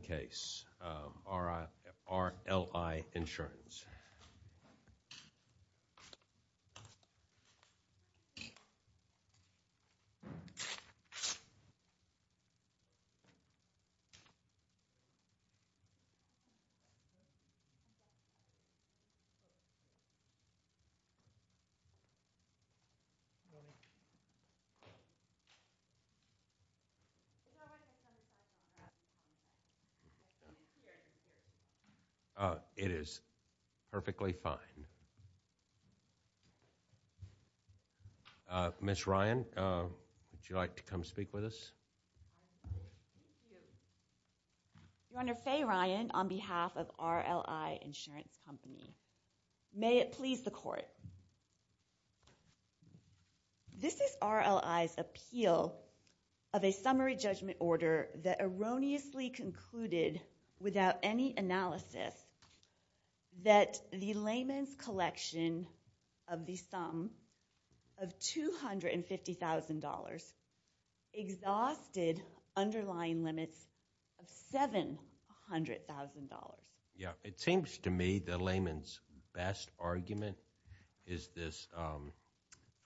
case. R. I. R. L. I. Insurance. May it please the Court, this is R. L. I.'s appeal of a summary judgment order that erroneously concluded without any analysis that the Lehman's collection of the sum of $250,000 exhausted underlying limits of $700,000. Yeah, it seems to me that Lehman's best argument is this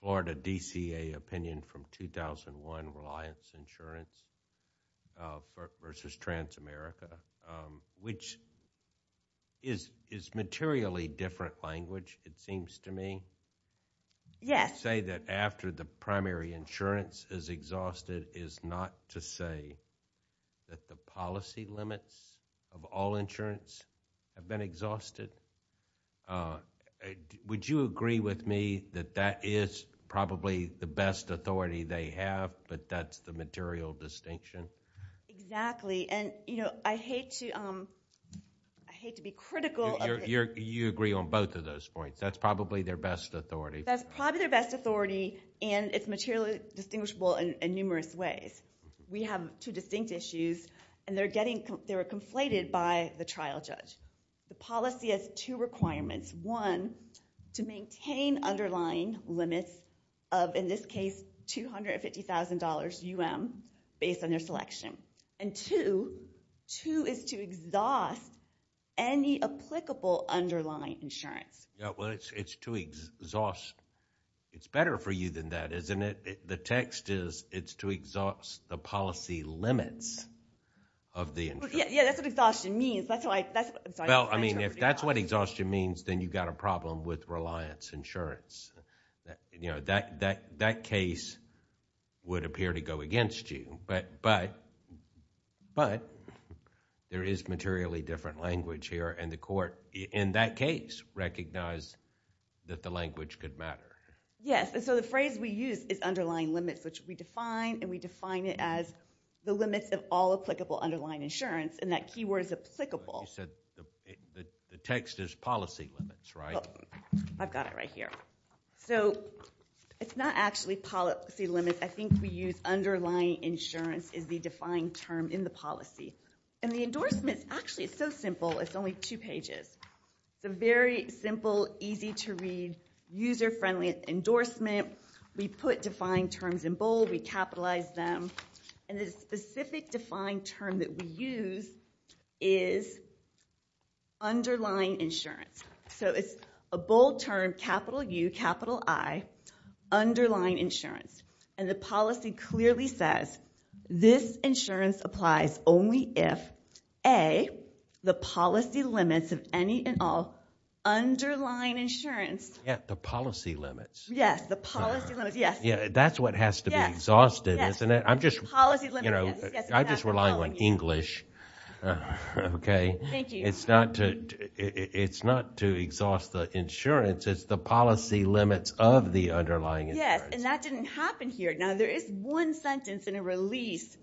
or the DCA opinion from 2001 Reliance Insurance v. Transamerica, which is materially different language it seems to me. Yes. To say that after the primary insurance is exhausted is not to say that the policy limits of all insurance have been exhausted. Would you agree with me that that is probably the best authority they have, but that's the material distinction? Exactly. I hate to be critical. You agree on both of those points. That's probably their best authority. That's probably their best authority and it's materially distinguishable in numerous ways. We have two distinct issues and they were conflated by the trial judge. The policy has two requirements. One, to maintain underlying limits of in this case $250,000 U.M. based on their selection. And two, two is to exhaust any applicable underlying insurance. Yeah, well it's to exhaust. It's better for you than that, isn't it? The text is it's to exhaust the policy limits of the insurance. Yeah, that's what exhaustion means. If that's what exhaustion means, then you've got a problem with Reliance Insurance. That case would appear to go against you, but there is materially different language here and the court in that case recognized that the language could matter. Yes, and so the phrase we use is underlying limits, which we define and we define it as the limits of all applicable underlying insurance and that keyword is applicable. You said the text is policy limits, right? I've got it right here. So it's not actually policy limits. I think we use underlying insurance is the defined term in the policy. And the endorsement is actually so simple. It's only two pages. It's a very simple, easy to read, user-friendly endorsement. We put defined terms in bold. We capitalize them. And the specific defined term that we use is underlying insurance. So it's a bold term, capital U, capital I, underlying insurance. And the policy clearly says this insurance applies only if A, the policy limits of any and all underlying insurance. Yet the policy limits. Yes, the policy limits. Yes. That's what has to be exhausted, isn't it? I'm just relying on English. Okay. Thank you. It's not to exhaust the insurance. It's the policy limits of the underlying insurance. Yes, and that didn't happen here. Now there is one sentence in a release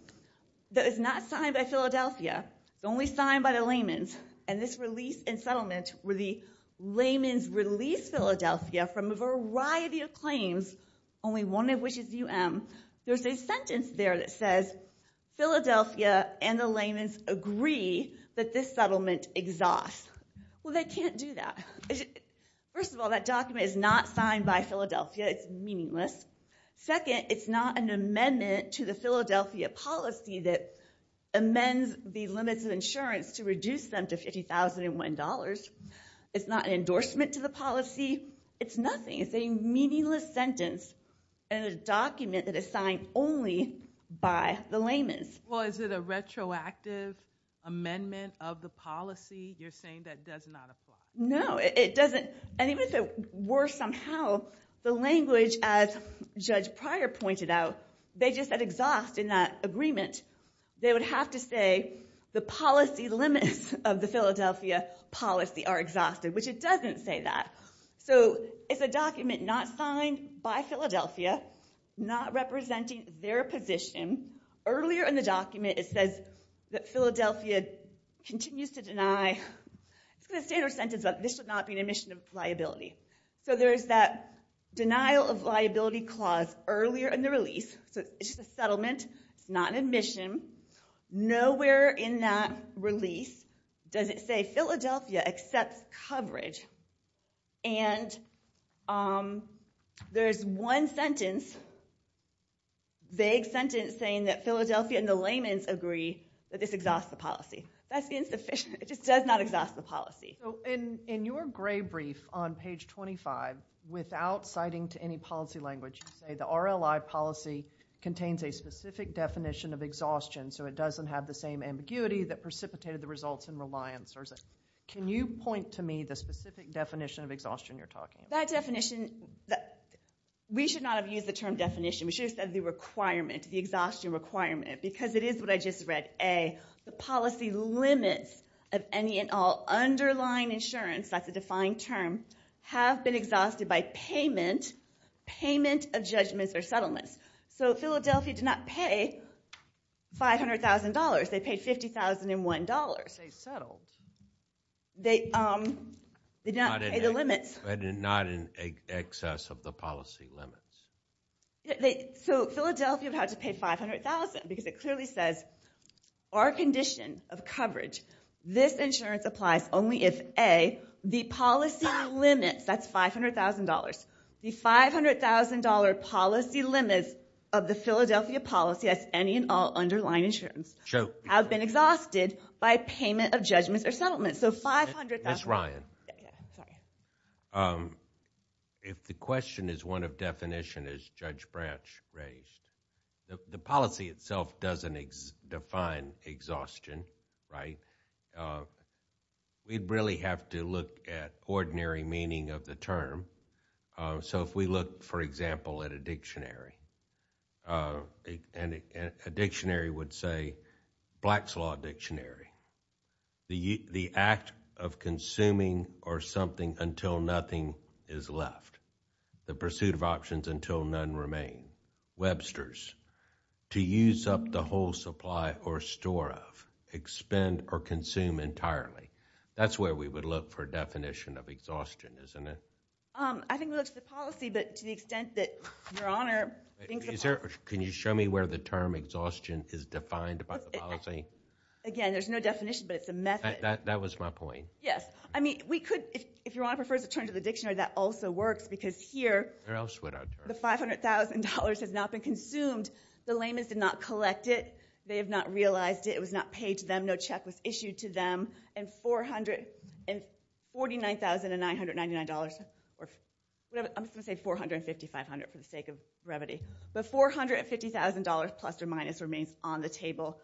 that is not signed by Philadelphia. It's only signed by the layman's. And this release and settlement were the layman's release Philadelphia from a variety of claims, only one of which is UM. There's a sentence there that says, Philadelphia and the layman's agree that this settlement exhausts. Well, they can't do that. First of all, that document is not signed by Philadelphia. It's meaningless. Second, it's not an amendment to the Philadelphia policy that amends the limits of insurance to reduce them to $50,001. It's not an endorsement to the policy. It's nothing. It's a meaningless sentence and a document that is signed only by the layman's. Well, is it a retroactive amendment of the policy you're saying that does not apply? No, it doesn't. And even if it were somehow, the language as Judge Pryor pointed out, they just said exhaust in that agreement. They would have to say the policy limits of the Philadelphia policy are exhausted, which it doesn't say that. So it's a document not signed by Philadelphia, not representing their position. Earlier in the document, it says that Philadelphia continues to deny the standard sentence that this should not be an admission of liability. So there's that denial of liability clause earlier in the release. So it's just a settlement. It's not an admission. Nowhere in that release does it say Philadelphia accepts coverage. And there's one sentence, a vague sentence saying that Philadelphia and the layman's agree that this exhausts the policy. That's insufficient. It just does not exhaust the policy. So in your gray brief on page 25, without citing to any policy language, you say the RLI policy contains a specific definition of exhaustion, so it doesn't have the same ambiguity that precipitated the results in reliance. Can you point to me the specific definition of exhaustion you're talking about? That definition, we should not have used the term definition. We should have said the requirement, the exhaustion requirement, because it is what I just read. A, the policy limits of any and all underlying insurance, that's a defined term, have been exhausted by payment, payment of judgments or settlements. So Philadelphia did not pay $500,000. They paid $50,001. They settled. They did not pay the limits. But not in excess of the policy limits. So Philadelphia would have to pay $500,000 because it clearly says our condition of coverage, this insurance applies only if A, the policy limits, that's $500,000, the $500,000 policy limits of the Philadelphia policy, that's any and all underlying insurance, have been exhausted by payment of judgments or settlements. So $500,000. Ms. Ryan. If the question is one of definition, as Judge Branch raised, the policy itself doesn't define exhaustion, right? We'd really have to look at ordinary meaning of the term. So if we look, for example, at a dictionary, and a dictionary would say Black's Law Dictionary, the act of consuming or something until nothing is left, the pursuit of options until none remain, Webster's, to use up the whole supply or store of, expend or consume entirely, that's where we would look for definition of exhaustion, isn't it? I think we look at the policy, but to the extent that, Your Honor, I think the policy Can you show me where the term exhaustion is defined by the policy? Again, there's no definition, but it's a method. That was my point. Yes. I mean, we could, if Your Honor prefers to turn to the dictionary, that also works, because here, the $500,000 has not been consumed. The layman's did not collect it. They have not realized it. It was not paid to them. No check was issued to them. And $49,999, I'm just going to say $450,500 for the sake of brevity, but $450,000 plus or minus remains on the table,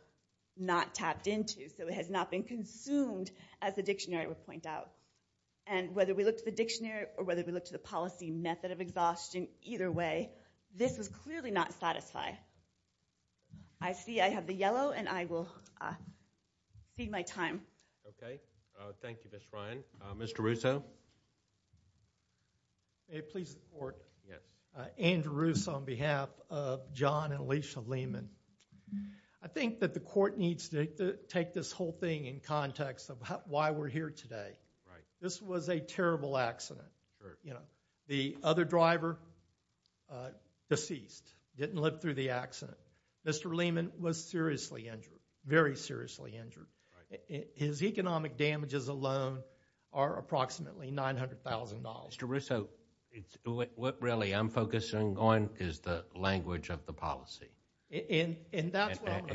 not tapped into, so it has not been consumed, as the dictionary would point out. And whether we look to the dictionary or whether we look to the policy method of exhaustion, either way, this was clearly not satisfied. I see I have the yellow, and I will speed my time. Okay. Thank you, Ms. Bryan. Mr. Russo? May it please the Court? Yes. Andrew Russo on behalf of John and Alicia Lehman. I think that the Court needs to take this whole thing in context of why we're here today. Right. This was a terrible accident. Sure. You know, the other driver deceased, didn't live through the accident. Mr. Lehman was seriously injured, very seriously injured. Right. His economic damages alone are approximately $900,000. Mr. Russo, what really I'm focusing on is the language of the policy.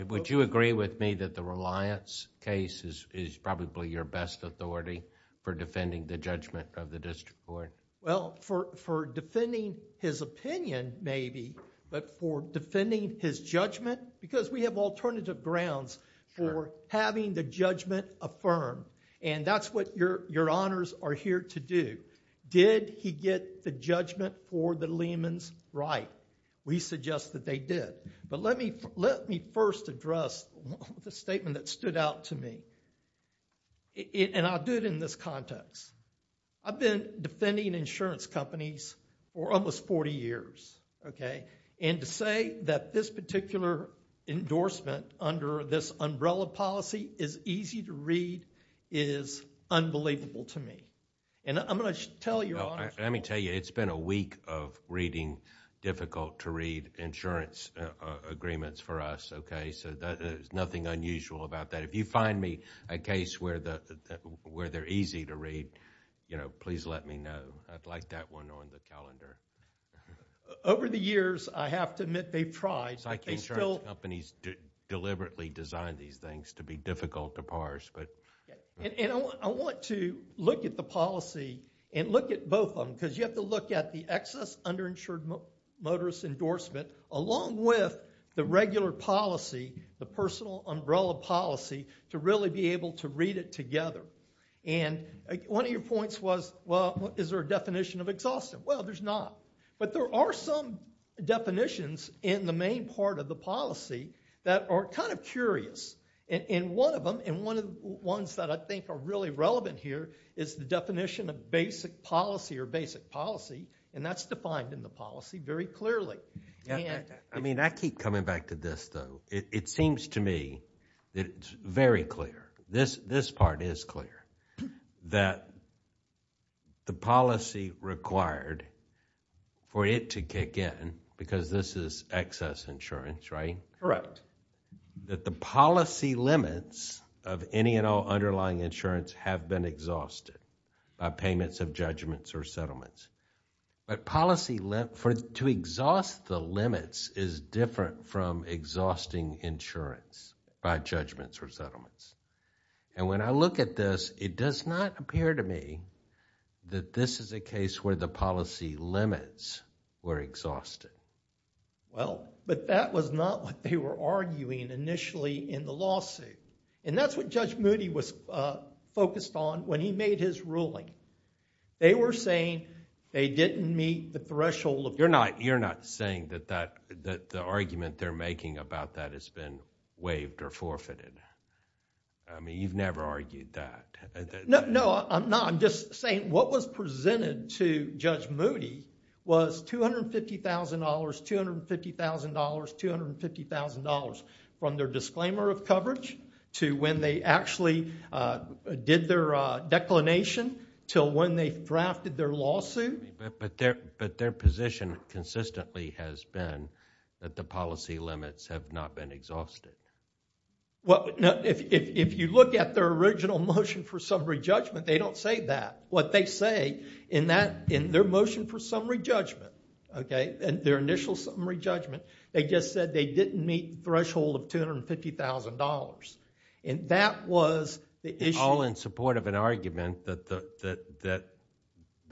Would you agree with me that the reliance case is probably your best authority for defending the judgment of the district court? Well, for defending his opinion, maybe, but for defending his judgment, because we have alternative grounds for having the judgment affirmed, and that's what your honors are here to do. Did he get the judgment for the Lehman's right? We suggest that they did. But let me first address the statement that stood out to me, and I'll do it in this context. I've been defending insurance companies for almost 40 years, okay? And to say that this particular endorsement under this umbrella policy is easy to read is unbelievable to me. I'm going to tell your honors... Let me tell you, it's been a week of reading difficult to read insurance agreements for us, okay? So, there's nothing unusual about that. If you find me a case where they're easy to read, please let me know. I'd like that one on the calendar. Okay. Over the years, I have to admit they've tried, but they still... Insurance companies deliberately design these things to be difficult to parse, but... And I want to look at the policy and look at both of them, because you have to look at the excess underinsured motorist endorsement, along with the regular policy, the personal umbrella policy, to really be able to read it together. And one of your points was, well, is there a definition of exhaustive? Well, there's not. But there are some definitions in the main part of the policy that are kind of curious. And one of them, and one of the ones that I think are really relevant here, is the definition of basic policy or basic policy, and that's defined in the policy very clearly. I mean, I keep coming back to this, though. It seems to me that it's very clear, this part is clear, that the policy required for it to kick in, because this is excess insurance, right? That the policy limits of any and all underlying insurance have been exhausted by payments of judgments or settlements. But policy, to exhaust the limits, is different from exhausting insurance by judgments or settlements. And when I look at this, it does not appear to me that this is a case where the policy limits were exhausted. Well, but that was not what they were arguing initially in the lawsuit. And that's what Judge Moody was focused on when he made his ruling. They were saying they didn't meet the threshold of... You're not saying that the argument they're making about that has been waived or forfeited? I mean, you've never argued that. No, I'm not. I'm just saying what was presented to Judge Moody was $250,000, $250,000, $250,000, from their disclaimer of coverage to when they actually did their declination till when they drafted their lawsuit. But their position consistently has been that the policy limits have not been exhausted. Well, no, if you look at their original motion for summary judgment, they don't say that. What they say in that, in their motion for summary judgment, okay, and their initial summary judgment, they just said they didn't meet the threshold of $250,000. And that was the issue... All in support of an argument that the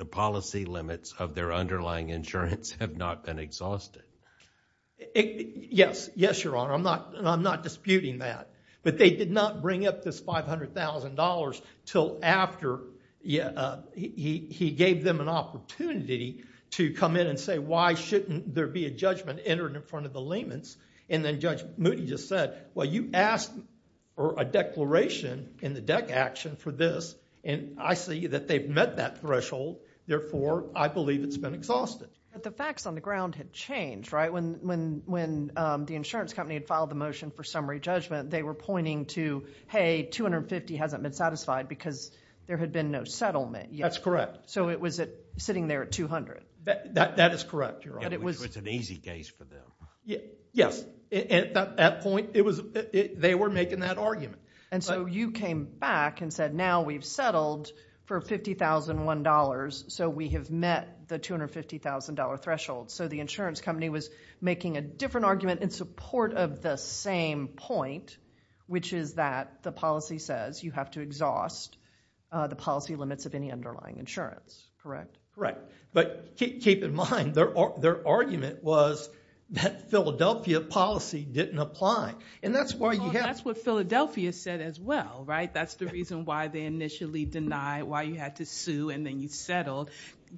policy limits of their underlying insurance have not been exhausted. Yes. Yes, Your Honor. I'm not disputing that. But they did not bring up this $500,000 till after he gave them an opportunity to come in and say, why shouldn't there be a judgment entered in front of the limits? And then Judge Moody just said, well, you asked for a declaration in the deck action for this, and I see that they've met that threshold. Therefore, I believe it's been exhausted. But the facts on the ground had changed, right? When the insurance company had filed the motion for summary judgment, they were pointing to, hey, $250,000 hasn't been satisfied because there had been no settlement yet. That's correct. So it was sitting there at $200,000. That is correct, Your Honor. Which was an easy case for them. Yes. At that point, they were making that argument. And so you came back and said, now we've settled for $50,001, so we have met the $250,000 threshold. So the insurance company was making a different argument in support of the same point, which is that the policy says you have to exhaust the policy limits of any underlying insurance. Correct? But keep in mind, their argument was that Philadelphia policy didn't apply. And that's why you have- That's what Philadelphia said as well, right? That's the reason why they initially denied, why you had to sue and then you settled.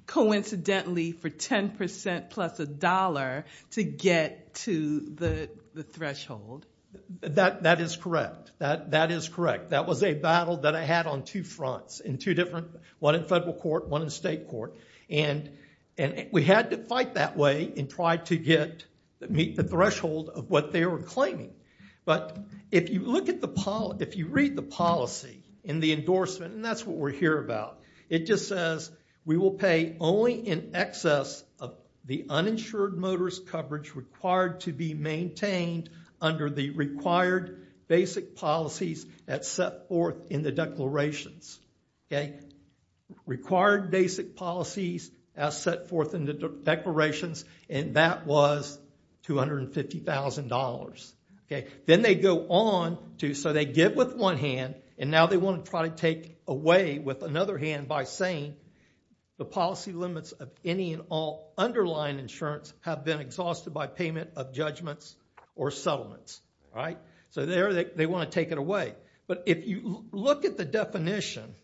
Coincidentally, for 10% plus a dollar to get to the threshold. That is correct. That is correct. That was a battle that I had on two fronts, in two different- one in federal court, one in state court. And we had to fight that way and try to meet the threshold of what they were claiming. But if you read the policy in the endorsement, and that's what we're here about, it just says, we will pay only in excess of the uninsured motorist coverage required to be maintained under the required basic policies that's set forth in the declarations. Required basic policies as set forth in the declarations, and that was $250,000. Then they go on to- So they give with one hand, and now they want to try to take away with another hand by saying the policy limits of any and all underlying insurance have been exhausted by payment of judgments or settlements, right? So there they want to take it away. But if you look at the definition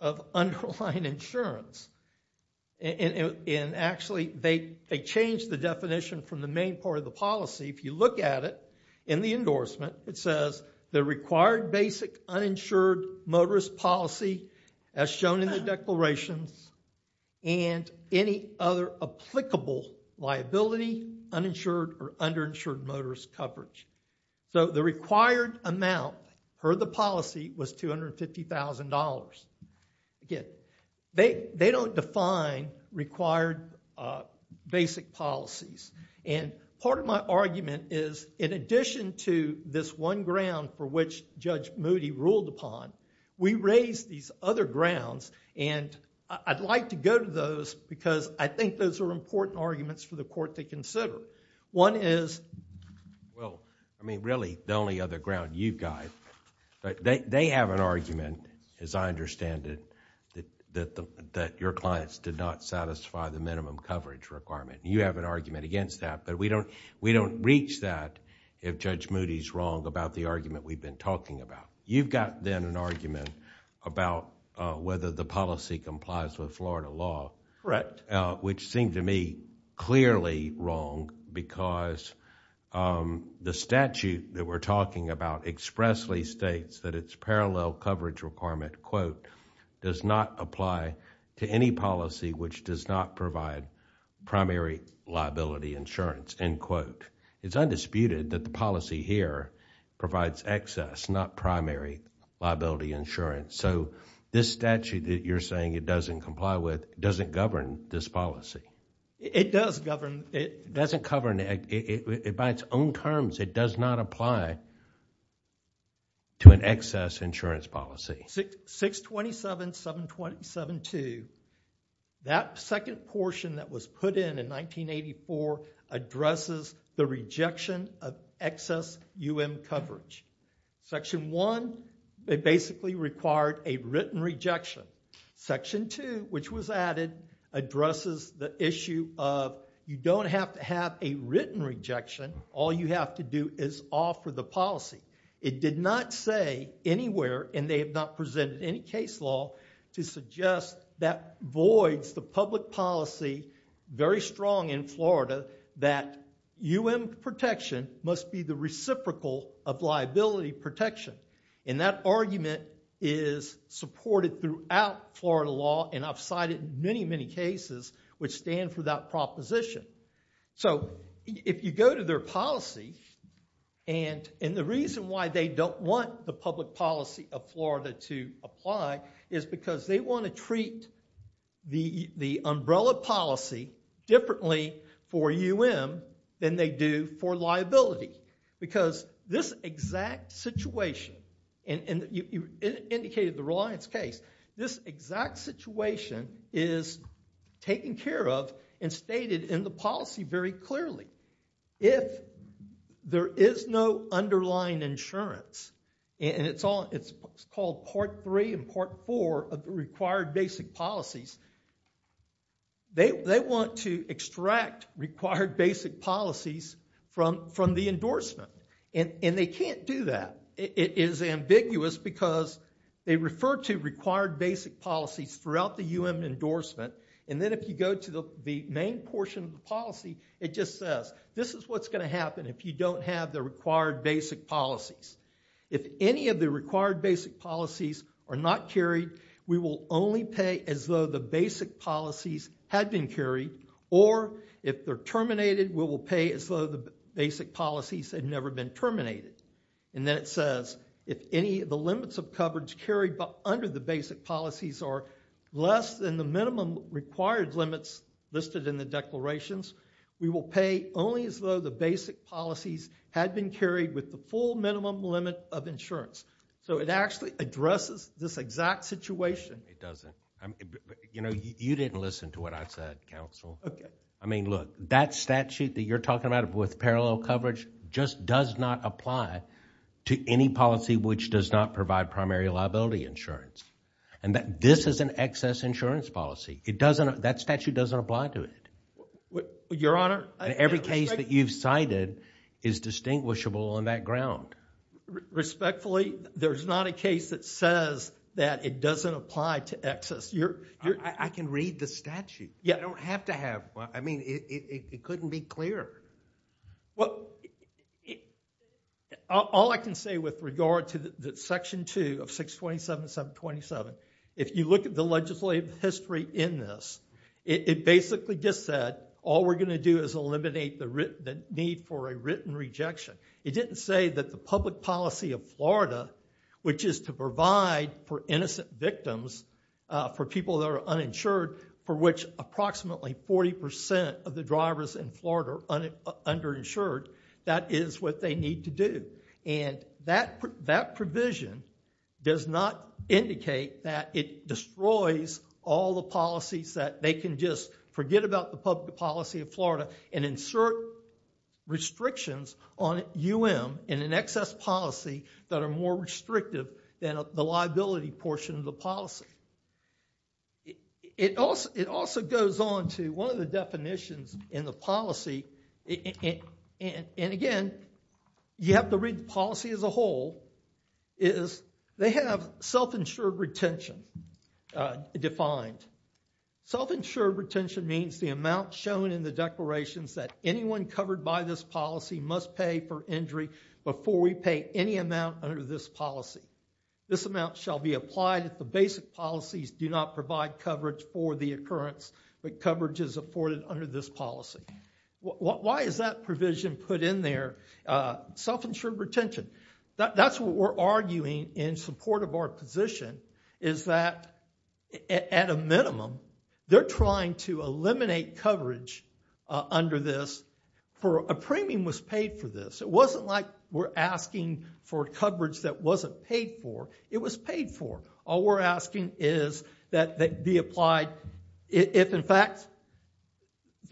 of underlying insurance, and actually they changed the definition from the main part of the policy. If you look at it in the endorsement, it says the required basic uninsured motorist policy as shown in the declarations, and any other applicable liability, uninsured or underinsured motorist coverage. So the required amount per the policy was $250,000. Again, they don't define required basic policies. Part of my argument is in addition to this one ground for which Judge Moody ruled upon, we raised these other grounds, and I'd like to go to those because I think those are important arguments for the court to consider. One is- Well, I mean really the only other ground you've got. They have an argument, as I understand it, that your clients did not satisfy the minimum coverage requirement. You have an argument against that, but we don't reach that if Judge Moody's wrong about the argument we've been talking about. You've got then an argument about whether the policy complies with Florida law. Correct. Which seemed to me clearly wrong because the statute that we're talking about expressly states that its parallel coverage requirement quote does not apply to any policy which does not provide primary liability insurance end quote. It's undisputed that the policy here provides excess, not primary liability insurance. So this statute that you're saying it doesn't comply with doesn't govern this policy. It does govern. It doesn't govern. By its own terms, it does not apply to an excess insurance policy. 627, 727-2, that second portion that was put in in 1984 addresses the rejection of excess UM coverage. Section one, it basically required a written rejection. Section two, which was added, addresses the issue of you don't have to have a written rejection. All you have to do is offer the policy. It did not say anywhere, and they have not presented any case law, to suggest that voids the public policy very strong in Florida that UM protection must be the reciprocal of liability protection. And that argument is supported throughout Florida law and I've cited many, many cases which stand for that proposition. So if you go to their policy and the reason why they don't want the public policy of Florida to apply is because they want to treat the umbrella policy differently for UM than they do for liability. Because this exact situation, and you indicated the Reliance case, this exact situation is taken care of and stated in the policy very clearly. If there is no underlying insurance, and it's called part three and part four of the required basic policies, they want to extract required basic policies from the endorsement and they can't do that. It is ambiguous because they refer to required basic policies throughout the UM endorsement and then if you go to the main portion of the policy, it just says this is what's going to happen if you don't have the required basic policies. If any of the required basic policies are not carried, we will only pay as though the basic policies had been carried or if they're terminated, we will pay as though the basic policies had never been terminated. And then it says if any of the limits of coverage carried under the basic policies are less than the minimum required limits listed in the declarations, we will pay only as though the basic policies had been carried with the full minimum limit of insurance. So it actually addresses this exact situation. It doesn't. You know, you didn't listen to what I said, counsel. I mean, look, that statute that you're talking about with parallel coverage just does not apply to any policy which does not provide primary liability insurance. And this is an excess insurance policy. That statute doesn't apply to it. Your Honor. Every case that you've cited is distinguishable on that ground. Respectfully, there's not a case that says that it doesn't apply to excess. I can read the statute. You don't have to have one. I mean, it couldn't be clearer. Well, all I can say with regard to Section 2 of 627.727, if you look at the legislative history in this, it basically just said all we're going to do is eliminate the need for a written rejection. It didn't say that the public policy of Florida, which is to provide for innocent victims, for people that are uninsured, for which approximately 40% of the drivers in Florida are underinsured, that is what they need to do. And that provision does not indicate that it destroys all the policies that they can just forget about the public policy of Florida and insert restrictions on UM in an excess policy that are more restrictive than the liability portion of the policy. It also goes on to one of the definitions in the policy, and again, you have to read policy as a whole, is they have self-insured retention. It defined self-insured retention means the amount shown in the declarations that anyone covered by this policy must pay for injury before we pay any amount under this policy. This amount shall be applied if the basic policies do not provide coverage for the occurrence, but coverage is afforded under this policy. Why is that provision put in there? Self-insured retention. That's what we're arguing in support of our position is that, at a minimum, they're trying to eliminate coverage under this for a premium was paid for this. It wasn't like we're asking for coverage that wasn't paid for. It was paid for. All we're asking is that they be applied. If, in fact,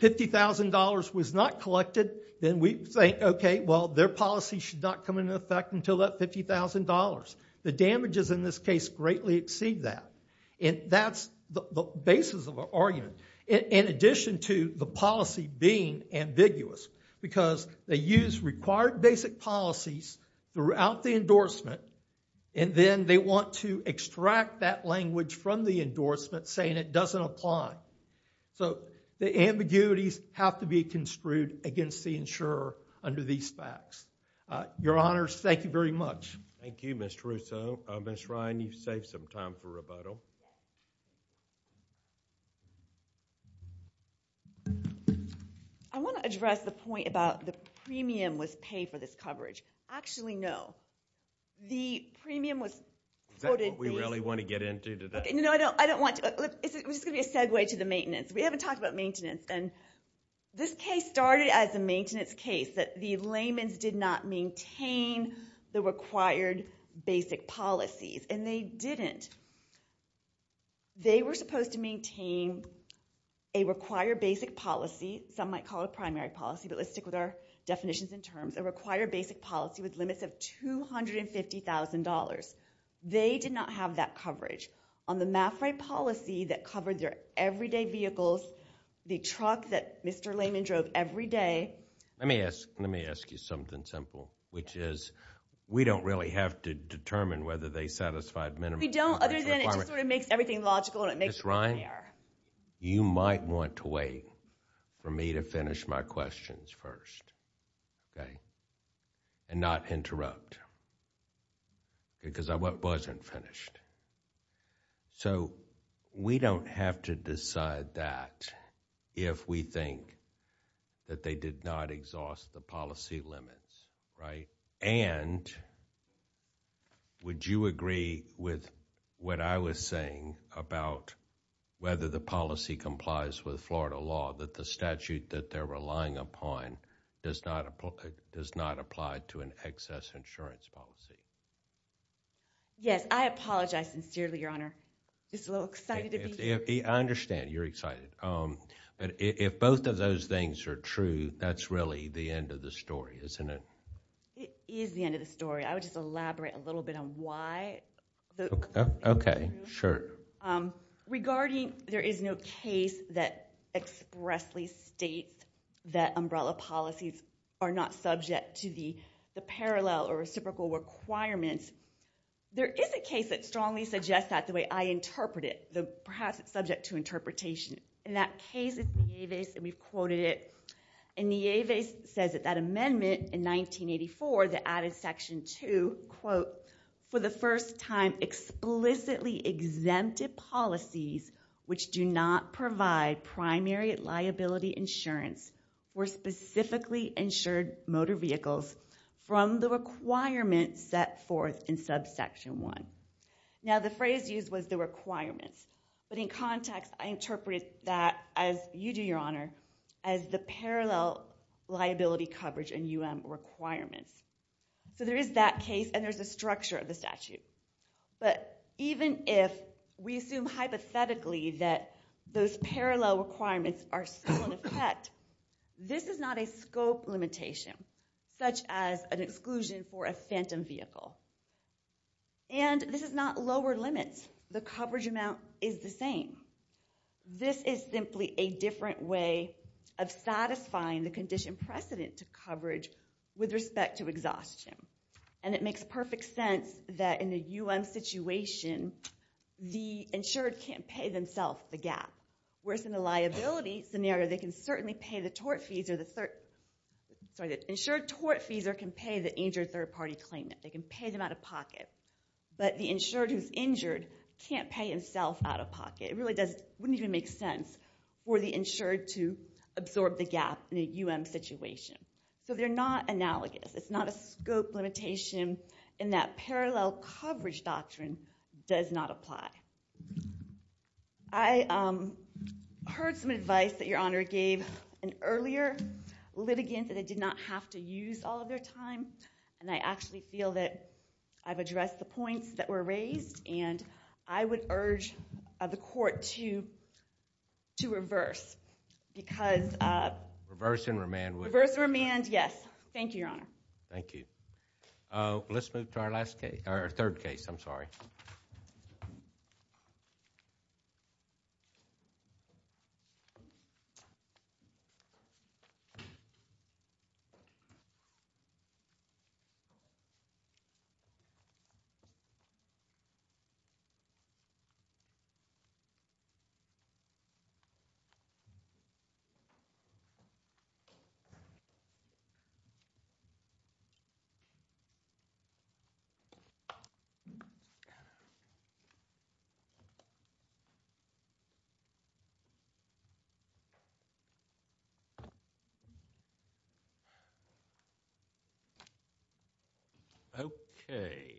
$50,000 was not collected, then we say, okay, well, their policy should not come into effect until that $50,000. The damages in this case greatly exceed that. And that's the basis of our argument. In addition to the policy being ambiguous because they use required basic policies throughout the endorsement, and then they want to extract that language from the endorsement saying it doesn't apply. So the ambiguities have to be construed against the insurer under these facts. Your Honors, thank you very much. Thank you, Ms. Russo. Ms. Ryan, you've saved some time for rebuttal. I want to address the point about the premium was paid for this coverage. Actually, no. The premium was quoted basically- Is that what we really want to get into today? No, I don't want to. It's just going to be a segue to the maintenance. We haven't talked about maintenance. And this case started as a maintenance case that the layman's did not maintain the required basic policies. And they didn't. They were supposed to maintain a required basic policy. Some might call it primary policy, but let's stick with our definitions and terms. A required basic policy with limits of $250,000. They did not have that coverage. On the MAFRA policy that covered their everyday vehicles, the truck that Mr. Layman drove every day- Let me ask you something simple, which is we don't really have to determine whether they satisfied minimum- We don't, other than it just sort of makes everything logical. Ms. Ryan, you might want to wait for me to finish my questions first, okay? And not interrupt because I wasn't finished. So we don't have to decide that if we think that they did not exhaust the policy limits, right? And would you agree with what I was saying about whether the policy complies with Florida law, that the statute that they're relying upon does not apply to an excess insurance policy? Yes, I apologize sincerely, Your Honor. Just a little excited to be here. I understand you're excited. But if both of those things are true, that's really the end of the story, isn't it? It is the end of the story. I would just elaborate a little bit on why. Okay, sure. Regarding there is no case that expressly states that umbrella policies are not subject to the parallel or reciprocal requirements, there is a case that strongly suggests that the way I interpret it, perhaps it's subject to interpretation. In that case, it's Nieves, and we've quoted it. And Nieves says that that amendment in 1984, that added section two, quote, for the first time explicitly exempted policies which do not provide primary liability insurance for specifically insured motor vehicles from the requirements set forth in subsection one. Now, the phrase used was the requirements. But in context, I interpret that, as you do, Your Honor, as the parallel liability coverage and UM requirements. So there is that case, and there's a structure of the statute. But even if we assume hypothetically that those parallel requirements are still in effect, this is not a scope limitation, such as an exclusion for a phantom vehicle. And this is not lower limits. The coverage amount is the same. This is simply a different way of satisfying the condition precedent to coverage with respect to exhaustion. And it makes perfect sense that in the UM situation, the insured can't pay themselves the gap. Whereas in the liability scenario, they can certainly pay the tort fees or the third, sorry, the insured tort fees or can pay the injured third-party claimant. They can pay them out of pocket. But the insured who's injured can't pay himself out of pocket. It really doesn't, wouldn't even make sense for the insured to absorb the gap in a UM situation. So they're not analogous. It's not a scope limitation in that parallel coverage doctrine does not apply. I heard some advice that Your Honor gave in earlier litigants that I did not have to use all of their time. And I actually feel that I've addressed the points that were raised. And I would urge the court to reverse because- Reverse and remand. Reverse and remand, yes. Thank you, Your Honor. Thank you. Let's move to our last case, our third case. I'm sorry. Okay.